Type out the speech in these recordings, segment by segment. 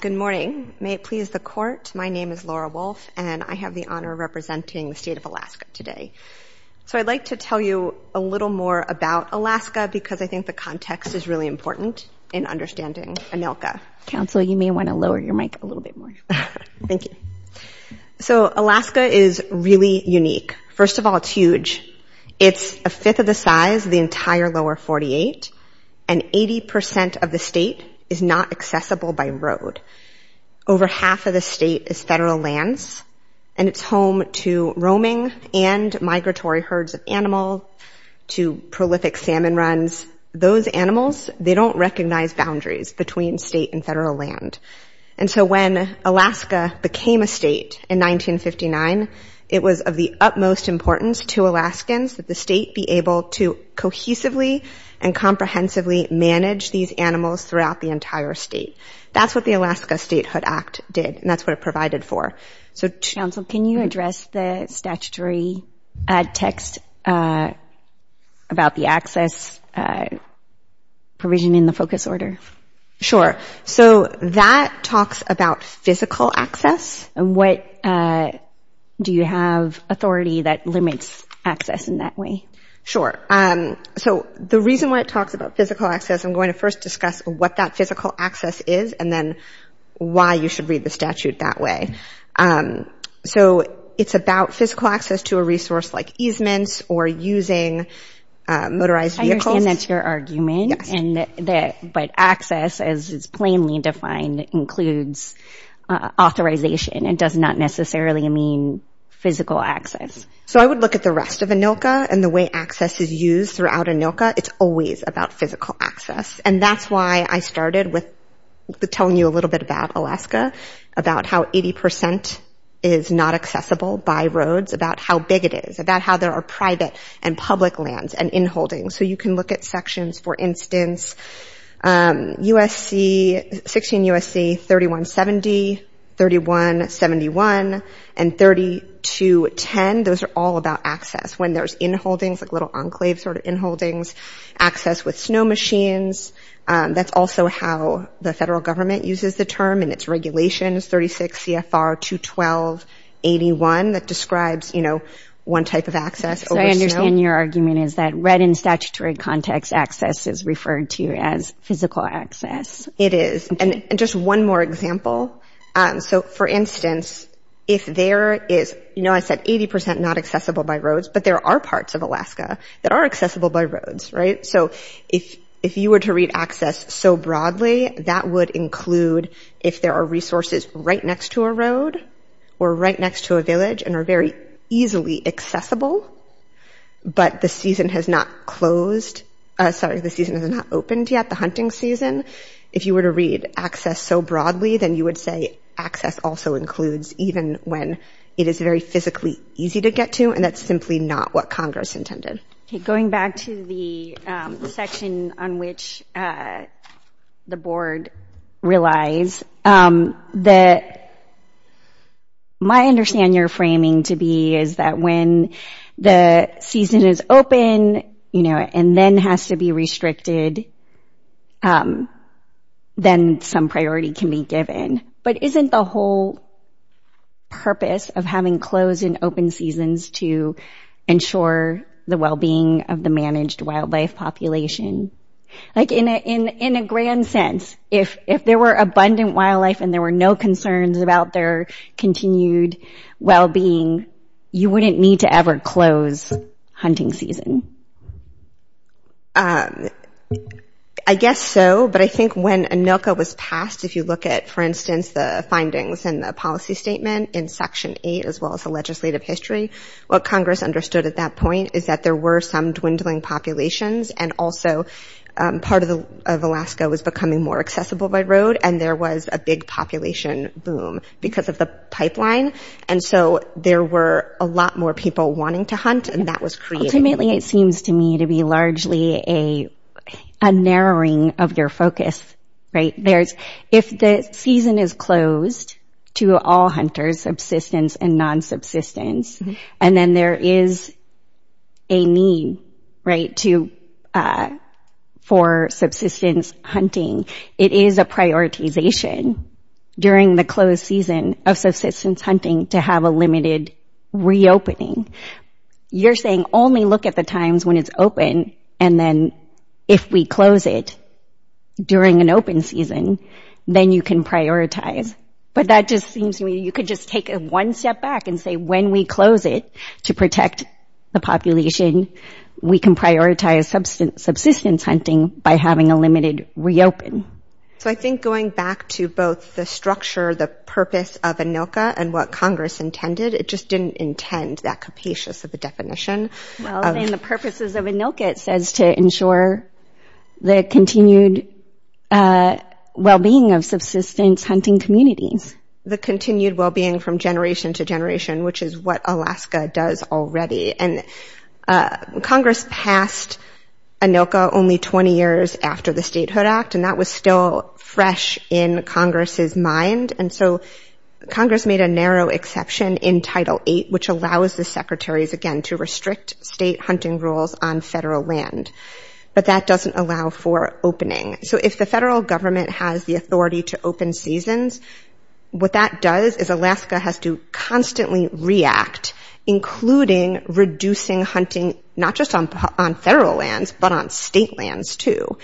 Good morning. May it please the court, my name is Laura Wolfe and I have the honor of representing the state of Alaska today. So I'd like to tell you a little more about Alaska because I think the context is really important in understanding Anilka. Counsel, you may want to lower your mic a little bit more. Thank you. So Alaska is really unique. First of all, it's huge. It's a fifth of the size of the entire lower 48 and 80% of the state is not accessible by road. Over half of the state is federal lands and it's home to roaming and migratory herds of animals, to prolific salmon runs. Those animals, they don't recognize boundaries between state and federal land. And so when Alaska became a state in 1959, it was of the utmost importance to Alaskans that the state be able to cohesively and comprehensively manage these animals throughout the entire state. That's what the Alaska Statehood Act did and that's what it provided for. Counsel, can you address the statutory text about the access provision in the focus order? Sure. So that talks about physical access. What do you have authority that limits access in that way? Sure. So the reason why it talks about physical access, I'm going to first discuss what that physical access is and then why you should read the statute that way. So it's about physical access to a resource like easements or using motorized vehicles. And that's your argument. But access, as it's plainly defined, includes authorization. It does not necessarily mean physical access. So I would look at the rest of ANILCA and the way access is used throughout ANILCA, it's always about physical access. And that's why I started with telling you a little bit about Alaska, about how 80 percent is not accessible by roads, about how big it is, about how there are private and public lands and inholdings. So you can look at sections, for instance, 16 U.S.C. 3170, 3171, and 3210. Those are all about access. When there's inholdings, like little enclave sort of inholdings, access with snow machines, that's also how the federal government uses the term and its regulations, 36 C.F.R. 21281, that describes one type of land. One type of access over snow. So I understand your argument is that right in statutory context, access is referred to as physical access. It is. And just one more example. So, for instance, if there is, you know, I said 80 percent not accessible by roads, but there are parts of Alaska that are accessible by roads, right? So if you were to read access so broadly, that would include if there are resources right next to a road or right next to a village and are very easily accessible, but the season has not closed, sorry, the season has not opened yet, the hunting season. If you were to read access so broadly, then you would say access also includes even when it is very physically easy to get to and that's simply not what Congress intended. Going back to the section on which the board relies, my understanding or framing to be is that when the season is open and then has to be restricted, then some priority can be given. But isn't the whole purpose of having closed and open seasons to ensure the well-being of the managed wildlife population? Like, in a grand sense, if there were abundant wildlife and there were no concerns about their continued well-being, you wouldn't need to ever close hunting season. I guess so, but I think when ANILCA was passed, if you look at, for instance, the findings and the policy statement in Section 8, as well as the legislative history, what Congress understood at that point is that there were some dwindling populations and also part of Alaska was becoming more accessible by road and there was a big population boom because of the pipeline, and so there were a lot more people wanting to hunt and that was created. Ultimately, it seems to me to be largely a narrowing of your focus. If the season is closed to all hunters, subsistence and non-subsistence, and then there is a need for subsistence hunting, it is a prioritization during the closed season of subsistence hunting to have a limited reopening. You're saying only look at the times when it's open and then if we close it during an open season, then you can prioritize, but that just seems to me you could just take one step back and say when we close it to protect the population, we can prioritize subsistence hunting by having a limited reopen. So I think going back to both the structure, the purpose of ANILCA and what Congress intended, it just didn't intend that capacious of a definition. In the purposes of ANILCA, it says to ensure the continued well-being of subsistence hunting communities. The continued well-being from generation to generation, which is what Alaska does already. Congress passed ANILCA only 20 years after the Statehood Act and that was still fresh in Congress's mind. Congress made a narrow exception in Title VIII, which allows the secretaries again to restrict state hunting rules on federal land, but that doesn't allow for opening. If the federal government has the authority to open seasons, what that does is Alaska has to constantly react, including reducing hunting not just on federal lands, but on state lands too,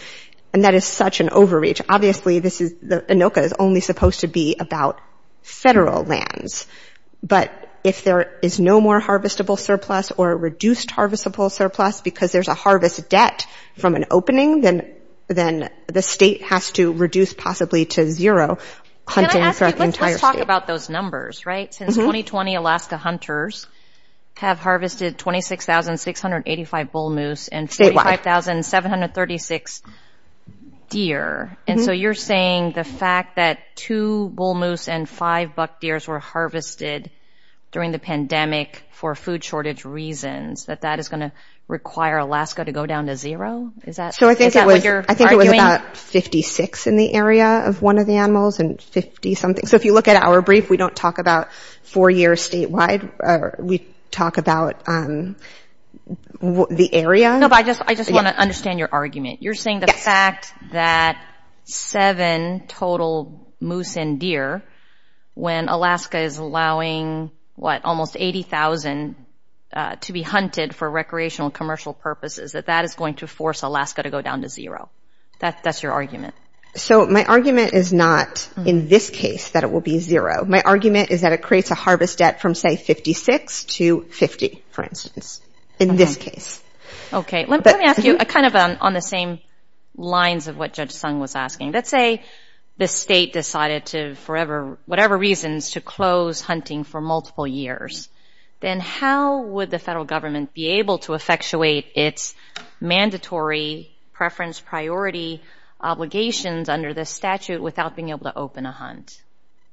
and that is such an overreach. Obviously ANILCA is only supposed to be about federal lands, but if there is no more harvestable surplus or reduced harvestable surplus because there's a harvest debt from an opening, then the state has to reduce possibly to zero hunting throughout the entire state. Can I ask you, let's talk about those numbers, right? Since 2020, Alaska hunters have harvested 26,685 bull moose and 45,736 deer, and so you're saying the fact that two bull moose and five buck deers were harvested during the pandemic for food shortage reasons, that that is going to require Alaska to go down to zero? Is that what you're arguing? So if you look at our brief, we don't talk about four years statewide. We talk about the area. No, but I just want to understand your argument. You're saying the fact that seven total moose and deer when Alaska is allowing almost 80,000 to be hunted for recreational and commercial purposes, that that is going to force Alaska to go down to zero. That's your argument. So my argument is not in this case that it will be zero. My argument is that it creates a harvest debt from, say, 56 to 50, for instance, in this case. Let me ask you, kind of on the same lines of what Judge Sung was asking. Let's say the state decided to, for whatever reasons, to close hunting for multiple years. Then how would the federal government be able to effectuate its mandatory preference priority obligations under this statute without being able to open a hunt?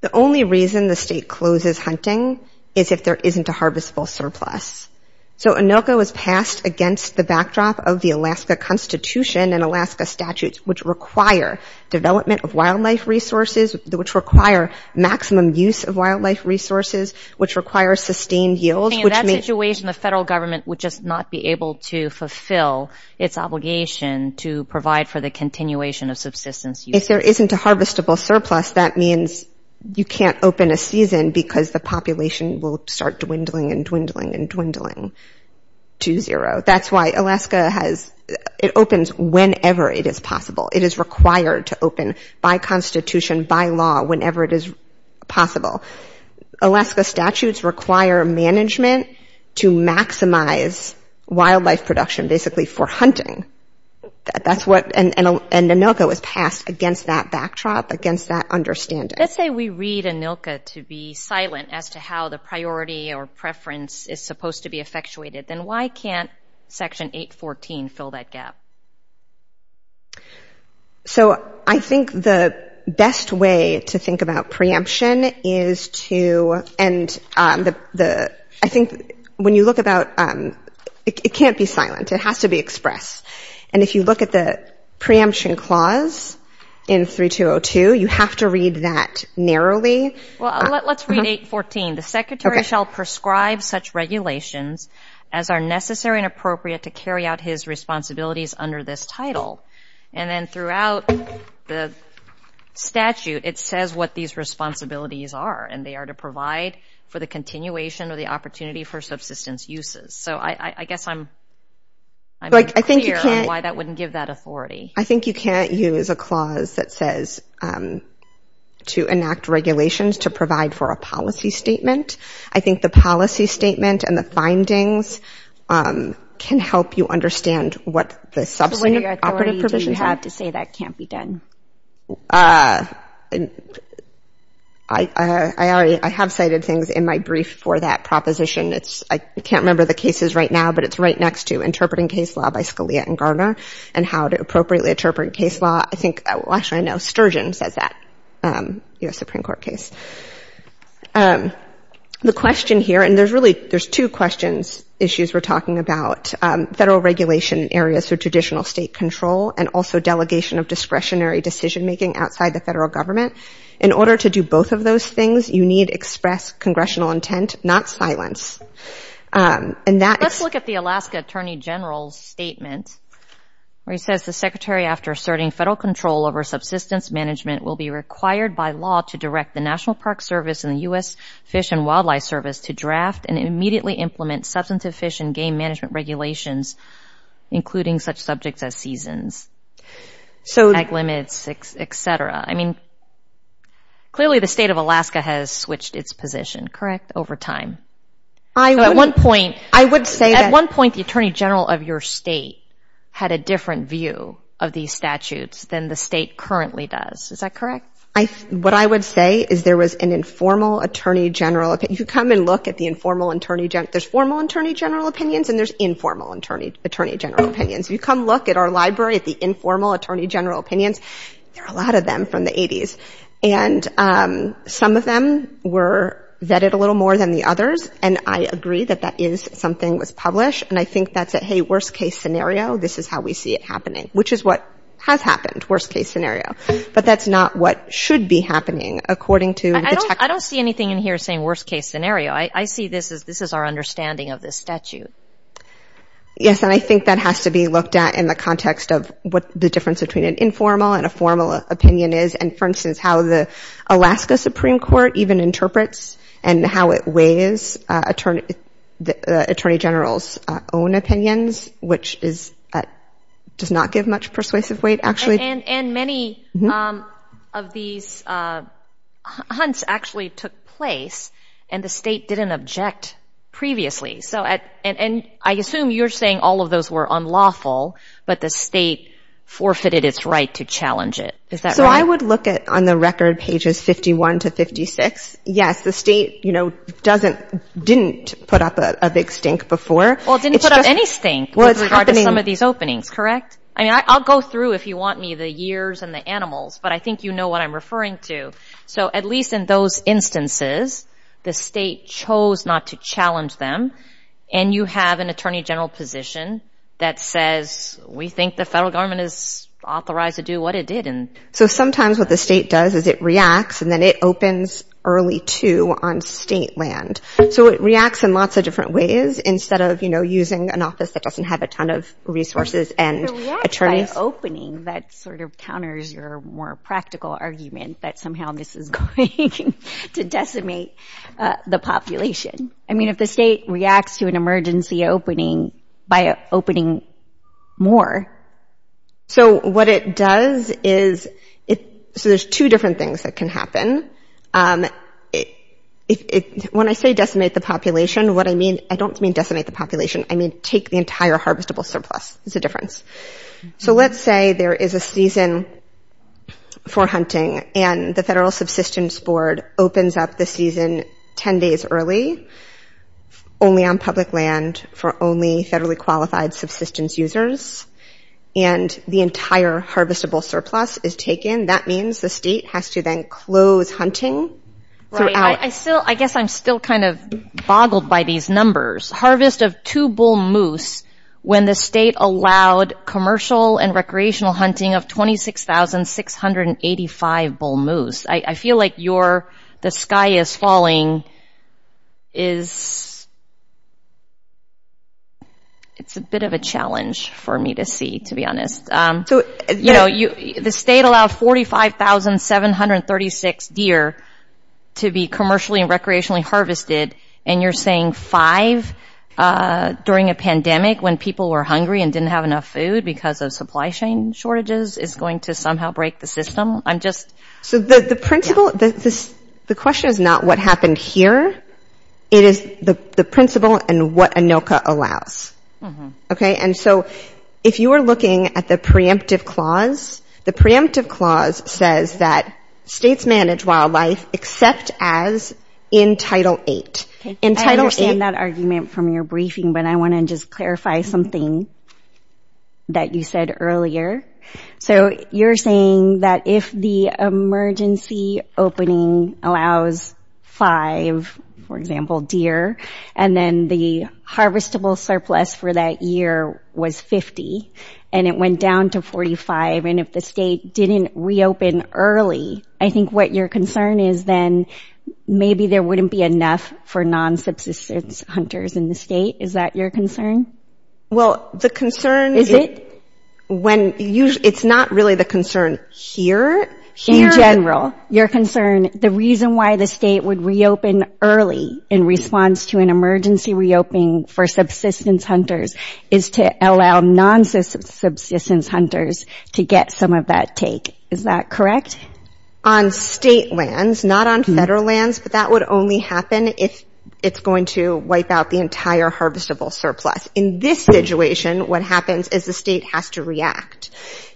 The only reason the state closes hunting is if there isn't a harvestable surplus. So ANOCA was passed against the backdrop of the Alaska Constitution and Alaska statutes, which require development of wildlife resources, which require maximum use of wildlife resources, which require sustained yields. In that situation, the federal government would just not be able to fulfill its obligation to provide for the continuation of subsistence use. If there isn't a harvestable surplus, that means you can't open a season because the population will start dwindling and dwindling and dwindling to zero. That's why Alaska has, it opens whenever it is possible. It is required to open by Constitution, by law, whenever it is possible. Alaska statutes require management to maximize wildlife production, basically for hunting. And ANOCA was passed against that backdrop, against that understanding. Let's say we read ANOCA to be silent as to how the priority or preference is supposed to be effectuated. Then why can't Section 814 fill that gap? So I think the best way to think about preemption is to, and I think when you look about, it can't be silent. It has to be expressed. And if you look at the preemption clause in 3202, you have to read that narrowly. Well, let's read 814. And then throughout the statute, it says what these responsibilities are, and they are to provide for the continuation or the opportunity for subsistence uses. So I guess I'm unclear on why that wouldn't give that authority. I think you can't use a clause that says to enact regulations to provide for a policy statement. I think the policy statement and the findings can help you understand what the substantive operative provisions are. I have cited things in my brief for that proposition. It's, I can't remember the cases right now, but it's right next to interpreting case law by Scalia and Garner and how to appropriately interpret case law. I think, well, actually, I know Sturgeon says that U.S. Supreme Court case. The question here, and there's really, there's two questions, issues we're talking about, federal regulation areas for traditional state control and also delegation of discretionary decision-making outside the federal government. In order to do both of those things, you need express congressional intent, not silence. And that is... Let's look at the Alaska Attorney General's statement where he says the secretary, after asserting federal control over subsistence management, will be required by law to direct the National Park Service and the U.S. Fish and Wildlife Service to draft and immediately implement substantive fish and game management regulations, including such subjects as seasons, tag limits, et cetera. I mean, clearly the state of Alaska has switched its position, correct, over time. At one point, the attorney general of your state had a different view of these statutes than the state currently does. Is that correct? What I would say is there was an informal attorney general, you can come and look at the informal attorney general. There's formal attorney general opinions and there's informal attorney general opinions. You come look at our library at the informal attorney general opinions, there are a lot of them from the 80s. And some of them were vetted a little more than the others, and I agree that that is something that was published. And I think that's a, hey, worst case scenario, this is how we see it happening, which is what has happened, worst case scenario, but that's not what should be happening, according to the text. I don't see anything in here saying worst case scenario. I see this as this is our understanding of this statute. Yes, and I think that has to be looked at in the context of what the difference between an informal and a formal opinion is, and, for instance, how the Alaska Supreme Court even interprets and how it weighs attorney generals' own opinions, which does not give much persuasive weight, actually. And many of these hunts actually took place, and the state didn't object previously. And I assume you're saying all of those were unlawful, but the state forfeited its right to challenge it. Is that right? I would look at, on the record, pages 51 to 56. Yes, the state didn't put up a big stink before. Well, it didn't put up any stink with regard to some of these openings, correct? I mean, I'll go through, if you want me, the years and the animals, but I think you know what I'm referring to. So at least in those instances, the state chose not to challenge them, and you have an attorney general position that says, we think the federal government is authorized to do what it did. So sometimes what the state does is it reacts, and then it opens early, too, on state land. So it reacts in lots of different ways instead of using an office that doesn't have a ton of resources and attorneys. It reacts by opening. That sort of counters your more practical argument that somehow this is going to decimate the population. I mean, if the state reacts to an emergency opening by opening more. So what it does is, so there's two different things that can happen. When I say decimate the population, what I mean, I don't mean decimate the population. I mean take the entire harvestable surplus. It's a difference. So let's say there is a season for hunting, and the federal subsistence board opens up the season 10 days early, only on public land for only federally qualified subsistence users, and the entire harvestable surplus is taken. That means the state has to then close hunting throughout. I guess I'm still kind of boggled by these numbers. Harvest of two bull moose when the state allowed commercial and recreational hunting of 26,685 bull moose. I feel like the sky is falling. It's a bit of a challenge for me to see, to be honest. The state allowed 45,736 deer to be commercially and recreationally harvested, and you're saying five during a pandemic when people were hungry and didn't have enough food because of supply chain shortages is going to somehow break the system? So the principle, the question is not what happened here. It is the principle and what ANOCA allows. And so if you are looking at the preemptive clause, the preemptive clause says that states manage wildlife except as in Title VIII. I understand that argument from your briefing, but I want to just clarify something that you said earlier. So you're saying that if the emergency opening allows five, for example, deer, and then the harvestable surplus for that year was 50, and it went down to 45, and if the state didn't reopen early, I think what your concern is then maybe there wouldn't be enough for non-substance hunters in the state. Is that your concern? It's not really the concern here. In general, your concern, the reason why the state would reopen early in response to an emergency reopening for subsistence hunters is to allow non-substance hunters to get some of that take. Is that correct? On state lands, not on federal lands, but that would only happen if it's going to wipe out the entire harvestable surplus. In this situation, what happens is the state has to react.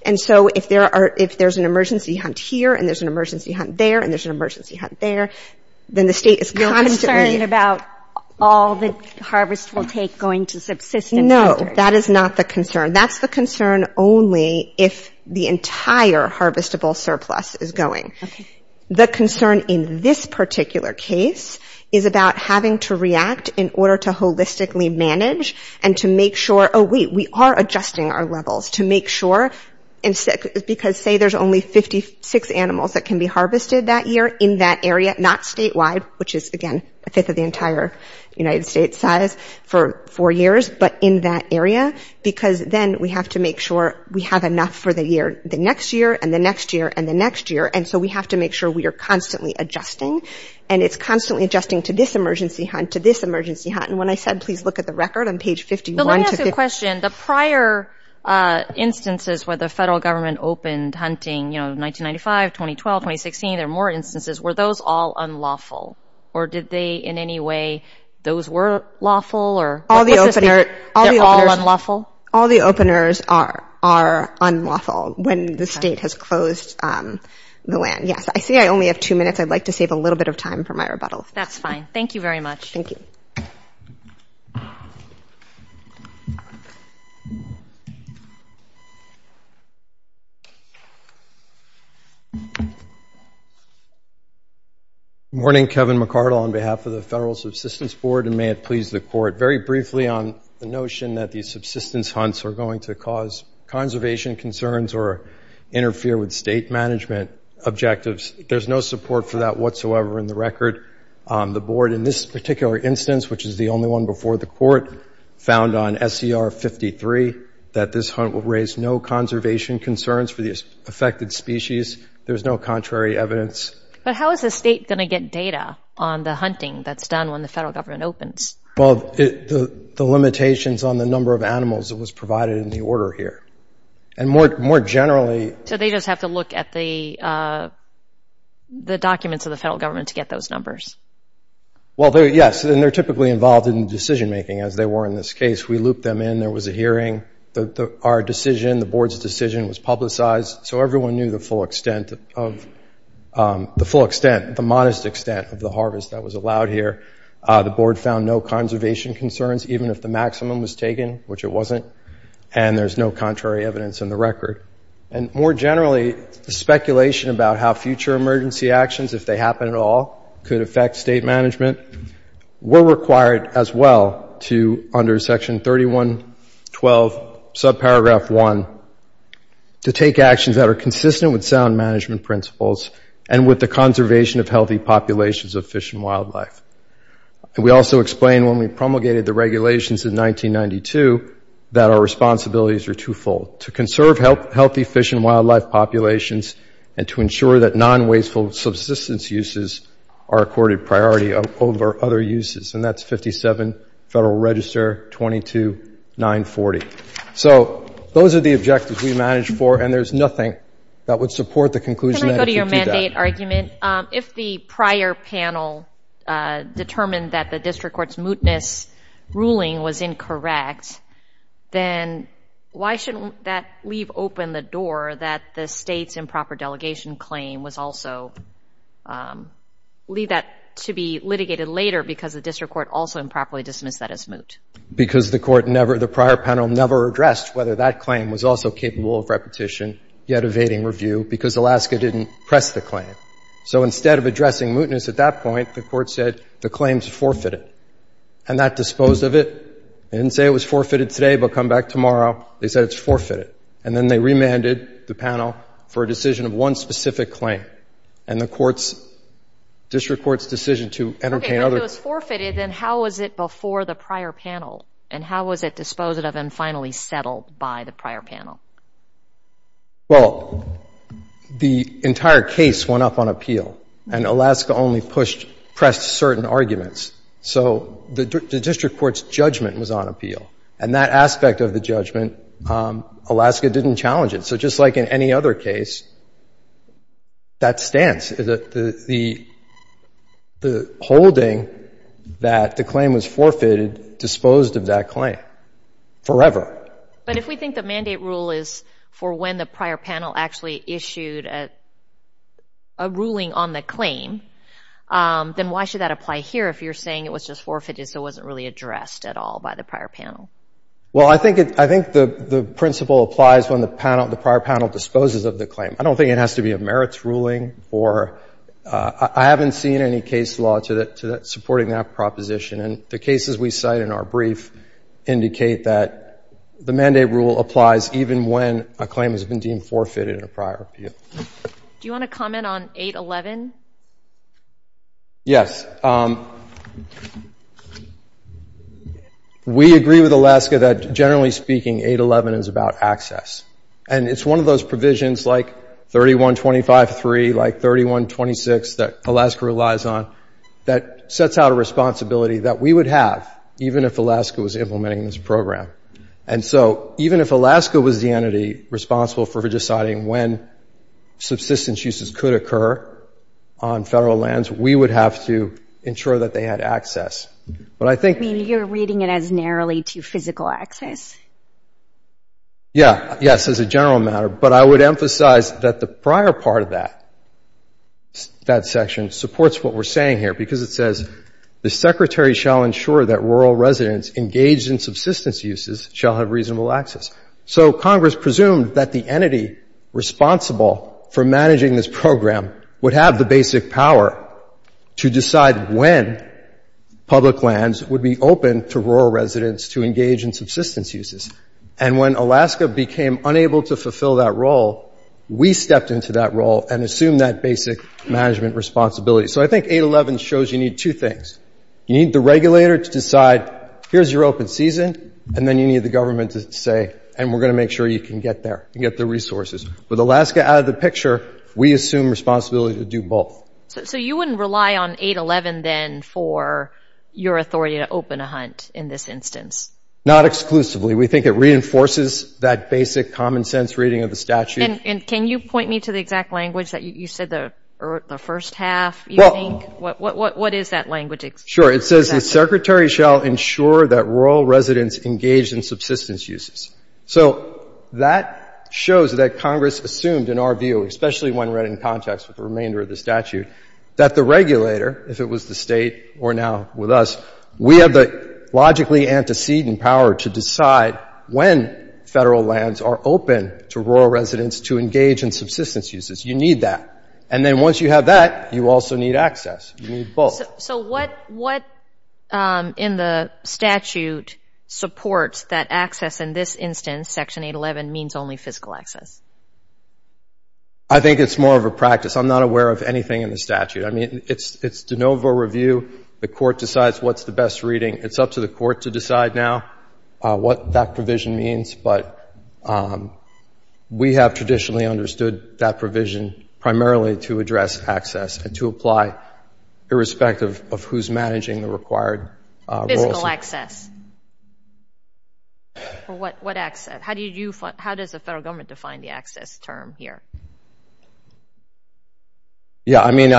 And so if there's an emergency hunt here, and there's an emergency hunt there, and there's an emergency hunt there, then the state is constantly... Your concern about all the harvestable take going to subsistence hunters. No, that is not the concern. That's the concern only if the entire harvestable surplus is going. The concern in this particular case is about having to react in order to holistically manage and to make sure, oh, wait, we are adjusting our levels to make sure, because say there's only 56 animals that can be harvested that year in that area, not statewide, which is, again, a fifth of the entire United States size for four years, but in that area, because then we have to make sure we have enough for the next year and the next year and the next year. And so we have to make sure we are constantly adjusting. And it's constantly adjusting to this emergency hunt, to this emergency hunt. And when I said, please look at the record on page 51... But let me ask you a question. The prior instances where the federal government opened hunting, you know, 1995, 2012, 2016, there were more instances. Were those all unlawful? Or did they in any way, those were lawful? All the openers are unlawful when the state has closed the land. Yes, I see I only have two minutes. I'd like to save a little bit of time for my rebuttal. That's fine. Thank you very much. Thank you. Morning. Kevin McCardle on behalf of the Federal Subsistence Board and may it please the court. Very briefly on the notion that these subsistence hunts are going to cause conservation concerns or interfere with state management objectives. There's no support for that whatsoever in the record. The board in this particular instance, which is the only one before the court, found on SCR 53 that this hunt will raise no conservation concerns for the affected species. There's no contrary evidence. But how is the state going to get data on the hunting that's done when the federal government opens? Well, the limitations on the number of animals that was provided in the order here. And more generally... So they just have to look at the documents of the federal government to get those numbers? Well, yes, and they're typically involved in decision making as they were in this case. We looped them in. There was a hearing. Our decision, the board's decision was publicized. So everyone knew the full extent of the harvest that was allowed here. The board found no conservation concerns, even if the maximum was taken, which it wasn't. And there's no contrary evidence in the record. And more generally, the speculation about how future emergency actions, if they happen at all, could affect state management were required as well to – under section 31.12, subparagraph 1 – to take actions that are consistent with sound management principles and with the conservation of healthy populations of fish and wildlife. And we also explained when we promulgated the regulations in 1992 that our responsibilities are twofold – to conserve healthy fish and wildlife populations and to ensure that non-wasteful subsistence uses are accorded priority over other uses. And that's 57 Federal Register 22940. So those are the objectives we managed for, and there's nothing that would support the conclusion that if you do that... determined that the district court's mootness ruling was incorrect, then why shouldn't that leave open the door that the state's improper delegation claim was also – leave that to be litigated later because the district court also improperly dismissed that as moot? Because the court never – the prior panel never addressed whether that claim was also capable of repetition, yet evading review, because Alaska didn't press the claim. So instead of addressing mootness at that point, the court said the claim's forfeited. And that disposed of it. They didn't say it was forfeited today, but come back tomorrow, they said it's forfeited. And then they remanded the panel for a decision of one specific claim. And the court's – district court's decision to entertain other... Okay, but if it was forfeited, then how was it before the prior panel? And how was it disposed of and finally settled by the prior panel? Well, the entire case went up on appeal. And Alaska only pushed – pressed certain arguments. So the district court's judgment was on appeal. And that aspect of the judgment, Alaska didn't challenge it. So just like in any other case, that stance, the holding that the claim was forfeited, disposed of that claim forever. But if we think the mandate rule is for when the prior panel actually issued a ruling on the claim, then why should that apply here if you're saying it was just forfeited so it wasn't really addressed at all by the prior panel? Well, I think it – I think the principle applies when the panel – the prior panel disposes of the claim. I don't think it has to be a merits ruling or – I haven't seen any case law to that – supporting that proposition. And the cases we cite in our brief indicate that the mandate rule applies even when a claim has been deemed forfeited in a prior appeal. Do you want to comment on 811? Yes. We agree with Alaska that, generally speaking, 811 is about access. And it's one of those provisions like 3125.3, like 3126, that Alaska relies on, that sets out a responsibility that we would have even if Alaska was implementing this program. And so even if Alaska was the entity responsible for deciding when subsistence uses could occur on federal lands, we would have to ensure that they had access. But I think – You mean you're reading it as narrowly to physical access? Yeah. Yes, as a general matter. But I would emphasize that the prior part of that, that section, supports what we're saying here because it says the Secretary shall ensure that rural residents engaged in subsistence uses shall have reasonable access. So Congress presumed that the entity responsible for managing this program would have the basic power to decide when public lands would be open to rural residents to engage in subsistence uses. And when Alaska became unable to fulfill that role, we stepped into that role and assumed that basic management responsibility. So I think 811 shows you need two things. You need the regulator to decide, here's your open season, and then you need the government to say, and we're going to make sure you can get there and get the resources. With Alaska out of the picture, we assume responsibility to do both. So you wouldn't rely on 811 then for your authority to open a hunt in this instance? Not exclusively. We think it reinforces that basic common-sense reading of the statute. And can you point me to the exact language that you said, the first half, you think? What is that language exactly? Sure. It says the Secretary shall ensure that rural residents engaged in subsistence uses. So that shows that Congress assumed, in our view, especially when read in context with the remainder of the statute, that the regulator, if it was the State or now with us, we have the logically antecedent power to decide when federal lands are open to rural residents to engage in subsistence uses. You need that. And then once you have that, you also need access. You need both. So what in the statute supports that access in this instance, Section 811, means only fiscal access? I think it's more of a practice. I'm not aware of anything in the statute. I mean, it's de novo review. The court decides what's the best reading. It's up to the court to decide now what that provision means. But we have traditionally understood that provision primarily to address access and to apply irrespective of who's managing the required rules. Fiscal access. What access? How does the federal government define the access term here? Yeah, I mean,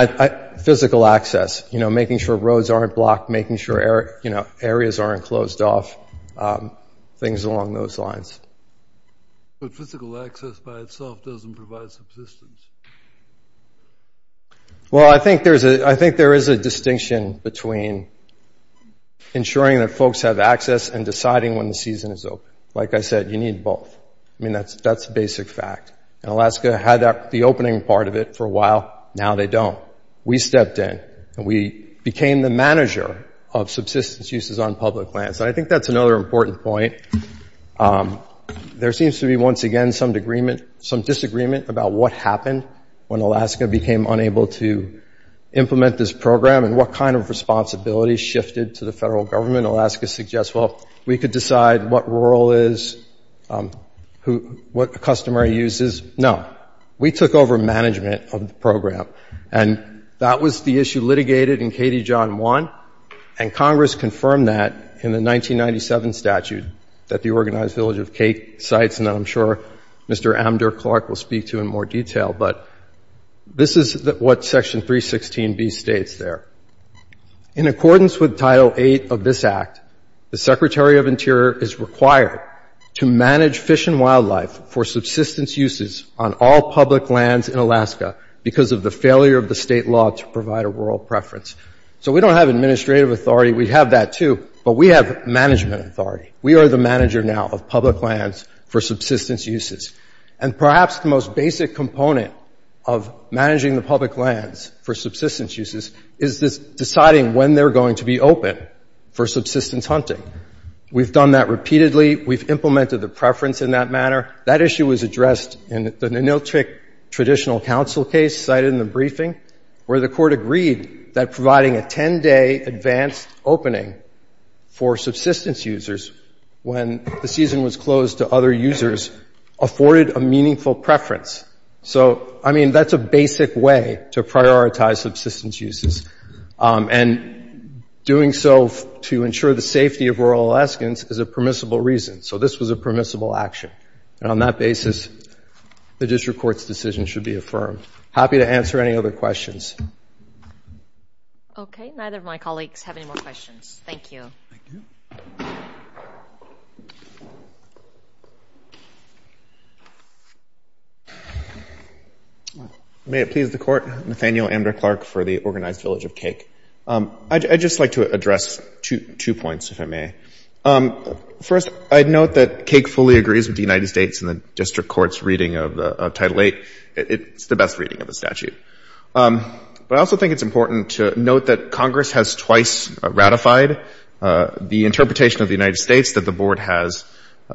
physical access. You know, making sure roads aren't blocked, making sure areas aren't closed off, things along those lines. But physical access by itself doesn't provide subsistence. Well, I think there is a distinction between ensuring that folks have access and deciding when the season is open. Like I said, you need both. I mean, that's a basic fact. And Alaska had the opening part of it for a while. Now they don't. We stepped in and we became the manager of subsistence uses on public lands. And I think that's another important point. There seems to be, once again, some disagreement about what happened when Alaska became unable to implement this program and what kind of responsibilities shifted to the federal government. Alaska suggests, well, we could decide what rural is, what customary use is. No. We took over management of the program. And that was the issue litigated in KD John 1, and Congress confirmed that in the 1997 statute that the Organized Village of Cake cites, and I'm sure Mr. Amdur-Clark will speak to in more detail. But this is what Section 316B states there. In accordance with Title VIII of this Act, the Secretary of Interior is required to manage fish and wildlife for subsistence uses on all public lands in Alaska because of the failure of the state law to provide a rural preference. So we don't have administrative authority. We have that too, but we have management authority. We are the manager now of public lands for subsistence uses. And perhaps the most basic component of managing the public lands for subsistence uses is deciding when they're going to be open for subsistence hunting. We've done that repeatedly. We've implemented the preference in that manner. That issue was addressed in the Ninilchik Traditional Council case cited in the briefing, where the Court agreed that providing a 10-day advanced opening for subsistence users when the season was closed to other users afforded a meaningful preference. So, I mean, that's a basic way to prioritize subsistence uses. And doing so to ensure the safety of rural Alaskans is a permissible reason. So this was a permissible action. And on that basis, the district court's decision should be affirmed. Happy to answer any other questions. Okay, neither of my colleagues have any more questions. Thank you. Thank you. May it please the Court. Nathaniel Amdur-Clark for the Organized Village of Cake. I'd just like to address two points, if I may. First, I'd note that Cake fully agrees with the United States in the district court's reading of Title VIII. It's the best reading of the statute. But I also think it's important to note that Congress has twice ratified the interpretation of the United States that the Board has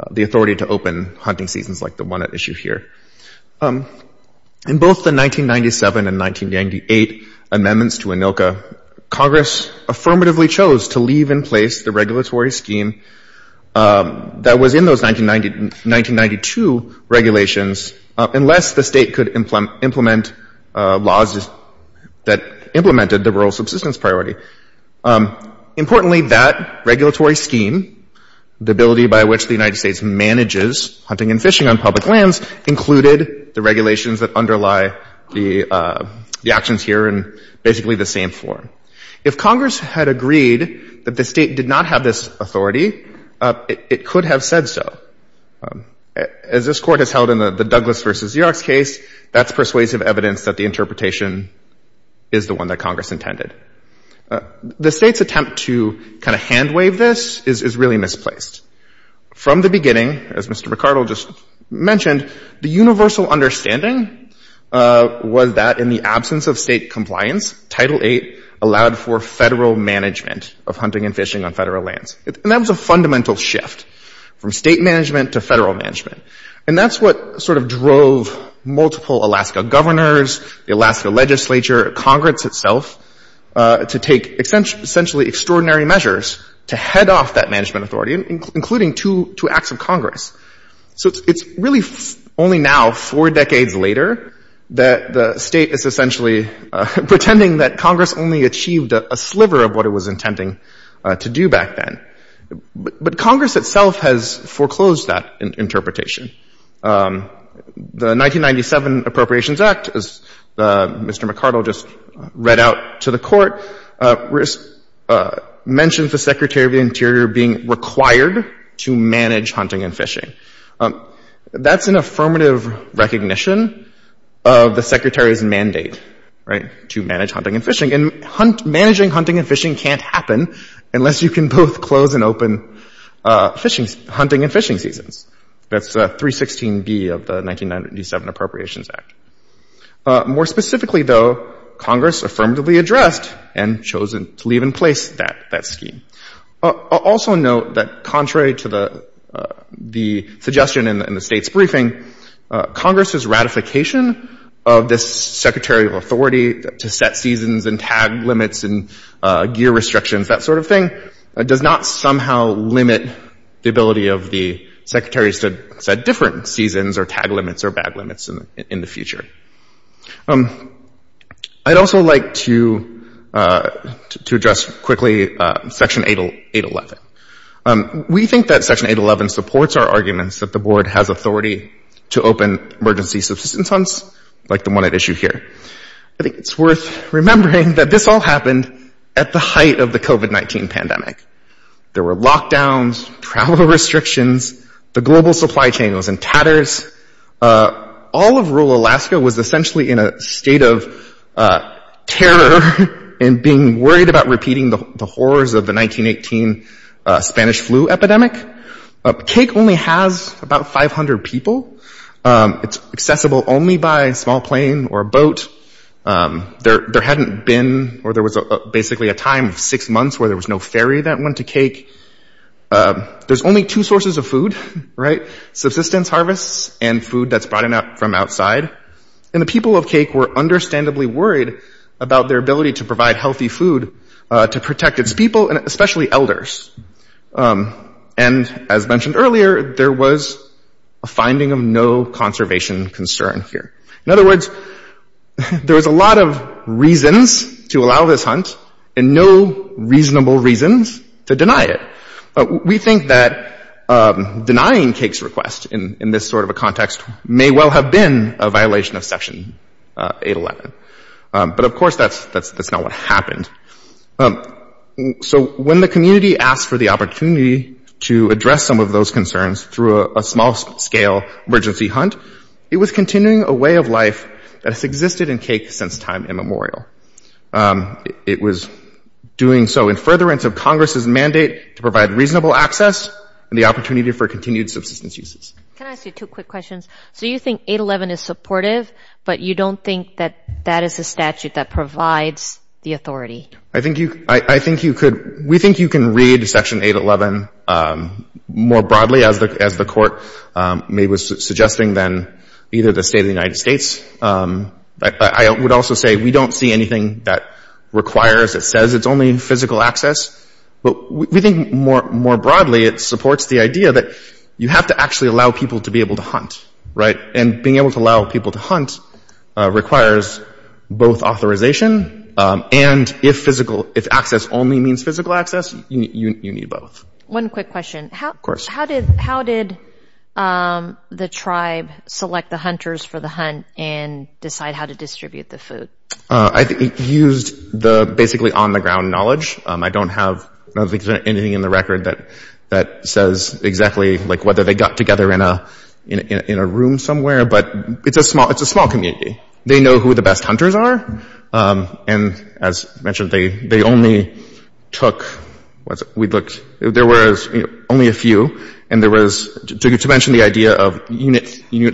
the authority to open hunting seasons like the one at issue here. In both the 1997 and 1998 amendments to ANILCA, Congress affirmatively chose to leave in place the regulatory scheme that was in those 1992 regulations unless the state could implement laws that implemented the rural subsistence priority. Importantly, that regulatory scheme, the ability by which the United States manages hunting and fishing on public lands, included the regulations that underlie the actions here in basically the same form. If Congress had agreed that the state did not have this authority, it could have said so. As this court has held in the Douglas v. Yerox case, that's persuasive evidence that the interpretation is the one that Congress intended. The state's attempt to kind of hand wave this is really misplaced. From the beginning, as Mr. McArdle just mentioned, the universal understanding was that in the absence of state compliance, Title VIII allowed for federal management of hunting and fishing on federal lands. And that was a fundamental shift from state management to federal management. And that's what sort of drove multiple Alaska governors, the Alaska legislature, Congress itself, to take essentially extraordinary measures to head off that management authority, including two acts of Congress. So it's really only now, four decades later, that the state is essentially pretending that Congress only achieved a sliver of what it was intending to do back then. But Congress itself has foreclosed that interpretation. The 1997 Appropriations Act, as Mr. McArdle just read out to the court, mentions the Secretary of the Interior being required to manage hunting and fishing. That's an affirmative recognition of the Secretary's mandate to manage hunting and fishing. And managing hunting and fishing can't happen unless you can both close and open hunting and fishing seasons. That's 316B of the 1997 Appropriations Act. More specifically, though, Congress affirmatively addressed and chosen to leave in place that scheme. I'll also note that contrary to the suggestion in the state's briefing, Congress's ratification of this Secretary of Authority to set seasons and tag limits and gear restrictions, that sort of thing, does not somehow limit the ability of the Secretaries to set different seasons or tag limits or bag limits in the future. I'd also like to address quickly Section 811. We think that Section 811 supports our arguments that the Board has authority to open emergency subsistence hunts like the one at issue here. I think it's worth remembering that this all happened at the height of the COVID-19 pandemic. There were lockdowns, travel restrictions, the global supply chain was in tatters. All of rural Alaska was essentially in a state of terror and being worried about repeating the horrors of the 1918 Spanish flu epidemic. Cake only has about 500 people. It's accessible only by small plane or boat. There hadn't been, or there was basically a time of six months where there was no ferry that went to Cake. There's only two sources of food, right? Subsistence harvests and food that's brought in from outside. And the people of Cake were understandably worried about their ability to provide healthy food to protect its people and especially elders. And as mentioned earlier, there was a finding of no conservation concern here. In other words, there was a lot of reasons to allow this hunt and no reasonable reasons to deny it. We think that denying Cake's request in this sort of a context may well have been a violation of Section 811. But of course, that's not what happened. So when the community asked for the opportunity to address some of those concerns through a small-scale emergency hunt, it was continuing a way of life that has existed in Cake since time immemorial. It was doing so in furtherance of Congress's mandate to provide reasonable access and the opportunity for continued subsistence uses. Can I ask you two quick questions? So you think 811 is supportive, but you don't think that that is a statute that provides the authority? I think you could—we think you can read Section 811 more broadly, as the Court was suggesting, than either the State of the United States. I would also say we don't see anything that requires, that says it's only in physical access. But we think more broadly it supports the idea that you have to actually allow people to be able to hunt, right? And being able to allow people to hunt requires both authorization and if access only means physical access, you need both. One quick question. Of course. How did the tribe select the hunters for the hunt and decide how to distribute the food? I think it used the basically on-the-ground knowledge. I don't have anything in the record that says exactly whether they got together in a room somewhere, but it's a small community. They know who the best hunters are. And as mentioned, they only took—we looked— there was only a few, and there was— to mention the idea of Unit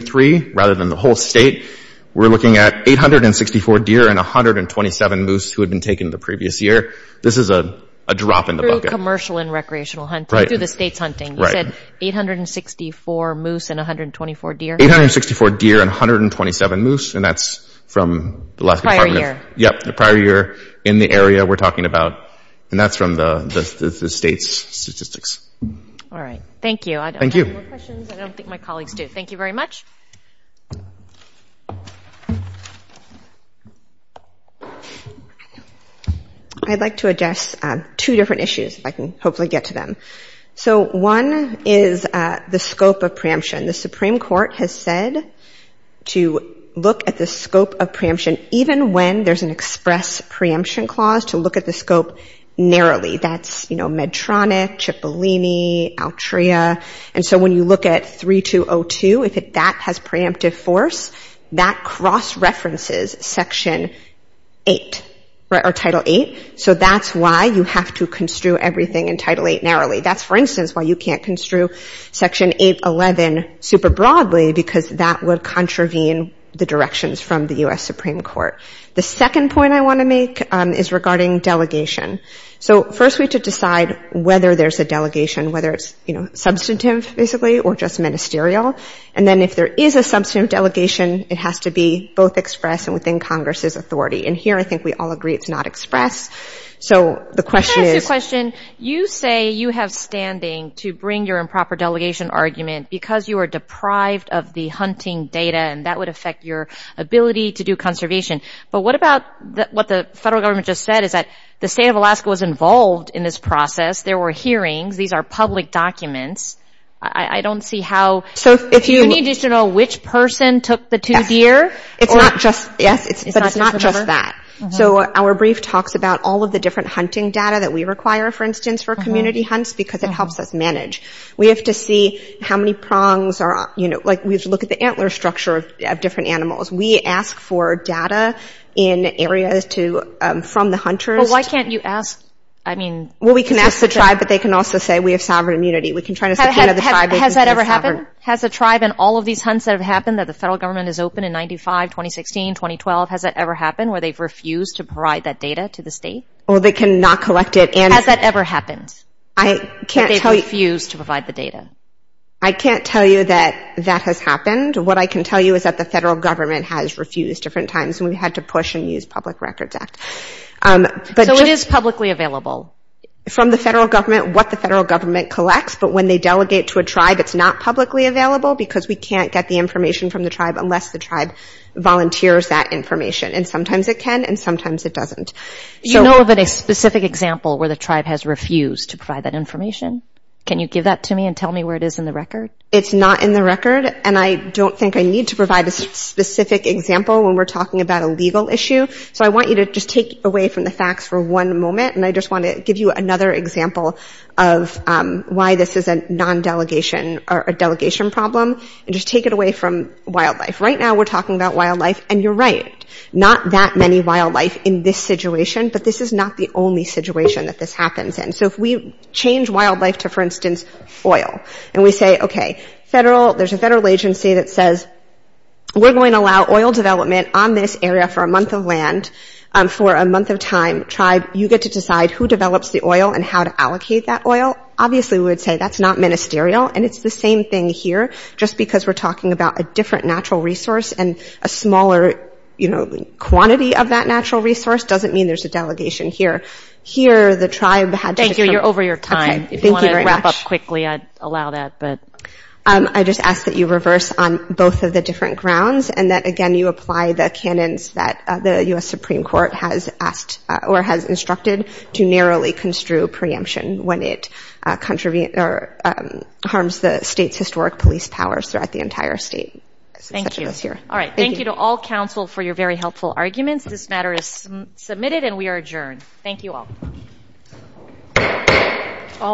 3 rather than the whole state, we're looking at 864 deer and 127 moose who had been taken the previous year. This is a drop in the bucket. Through commercial and recreational hunting. Right. Through the state's hunting. Right. You said 864 moose and 124 deer? 864 deer and 127 moose, and that's from the last department. Prior year. Yep. The prior year in the area we're talking about. And that's from the state's statistics. All right. Thank you. Thank you. I don't have any more questions. I don't think my colleagues do. Thank you very much. I'd like to address two different issues, if I can hopefully get to them. So one is the scope of preemption. The Supreme Court has said to look at the scope of preemption, even when there's an express preemption clause, to look at the scope narrowly. That's Medtronic, Cipollini, Altria. And so when you look at 3202, if that has preemptive force, that cross-references Section 8 or Title 8. So that's why you have to construe everything in Title 8 narrowly. That's, for instance, why you can't construe Section 811 super broadly, because that would contravene the directions from the U.S. Supreme Court. The second point I want to make is regarding delegation. So first we have to decide whether there's a delegation, whether it's substantive, basically, or just ministerial. And then if there is a substantive delegation, it has to be both express and within Congress's authority. And here I think we all agree it's not express. So the question is — Let me ask you a question. You say you have standing to bring your improper delegation argument because you are deprived of the hunting data, and that would affect your ability to do conservation. But what about what the federal government just said, is that the state of Alaska was involved in this process. There were hearings. These are public documents. I don't see how — You need to know which person took the two deer. It's not just — yes, but it's not just that. So our brief talks about all of the different hunting data that we require, for instance, for community hunts because it helps us manage. We have to see how many prongs are — like, we have to look at the antler structure of different animals. We ask for data in areas to — from the hunters. Well, why can't you ask — I mean — Well, we can ask the tribe, but they can also say we have sovereign immunity. We can try to — Has that ever happened? Has the tribe in all of these hunts that have happened, that the federal government has opened in 95, 2016, 2012, has that ever happened where they've refused to provide that data to the state? Well, they cannot collect it and — Has that ever happened? I can't tell you — That they've refused to provide the data? I can't tell you that that has happened. What I can tell you is that the federal government has refused different times, and we've had to push and use Public Records Act. So it is publicly available? From the federal government, what the federal government collects. But when they delegate to a tribe, it's not publicly available because we can't get the information from the tribe unless the tribe volunteers that information. And sometimes it can, and sometimes it doesn't. You know of any specific example where the tribe has refused to provide that information? Can you give that to me and tell me where it is in the record? It's not in the record, and I don't think I need to provide a specific example when we're talking about a legal issue. So I want you to just take away from the facts for one moment, and I just want to give you another example of why this is a non-delegation or a delegation problem, and just take it away from wildlife. Right now we're talking about wildlife, and you're right. Not that many wildlife in this situation, but this is not the only situation that this happens in. So if we change wildlife to, for instance, oil, and we say, okay, there's a federal agency that says, we're going to allow oil development on this area for a month of land for a month of time, tribe, you get to decide who develops the oil and how to allocate that oil. Obviously we would say that's not ministerial, and it's the same thing here, just because we're talking about a different natural resource and a smaller, you know, quantity of that natural resource doesn't mean there's a delegation here. Here the tribe had to come. Thank you. You're over your time. If you want to wrap up quickly, I'd allow that. I just ask that you reverse on both of the different grounds, and that, again, you apply the canons that the U.S. Supreme Court has asked or has instructed to narrowly construe preemption when it harms the state's historic police powers throughout the entire state. Thank you. All right. Thank you to all counsel for your very helpful arguments. This matter is submitted, and we are adjourned. Thank you all.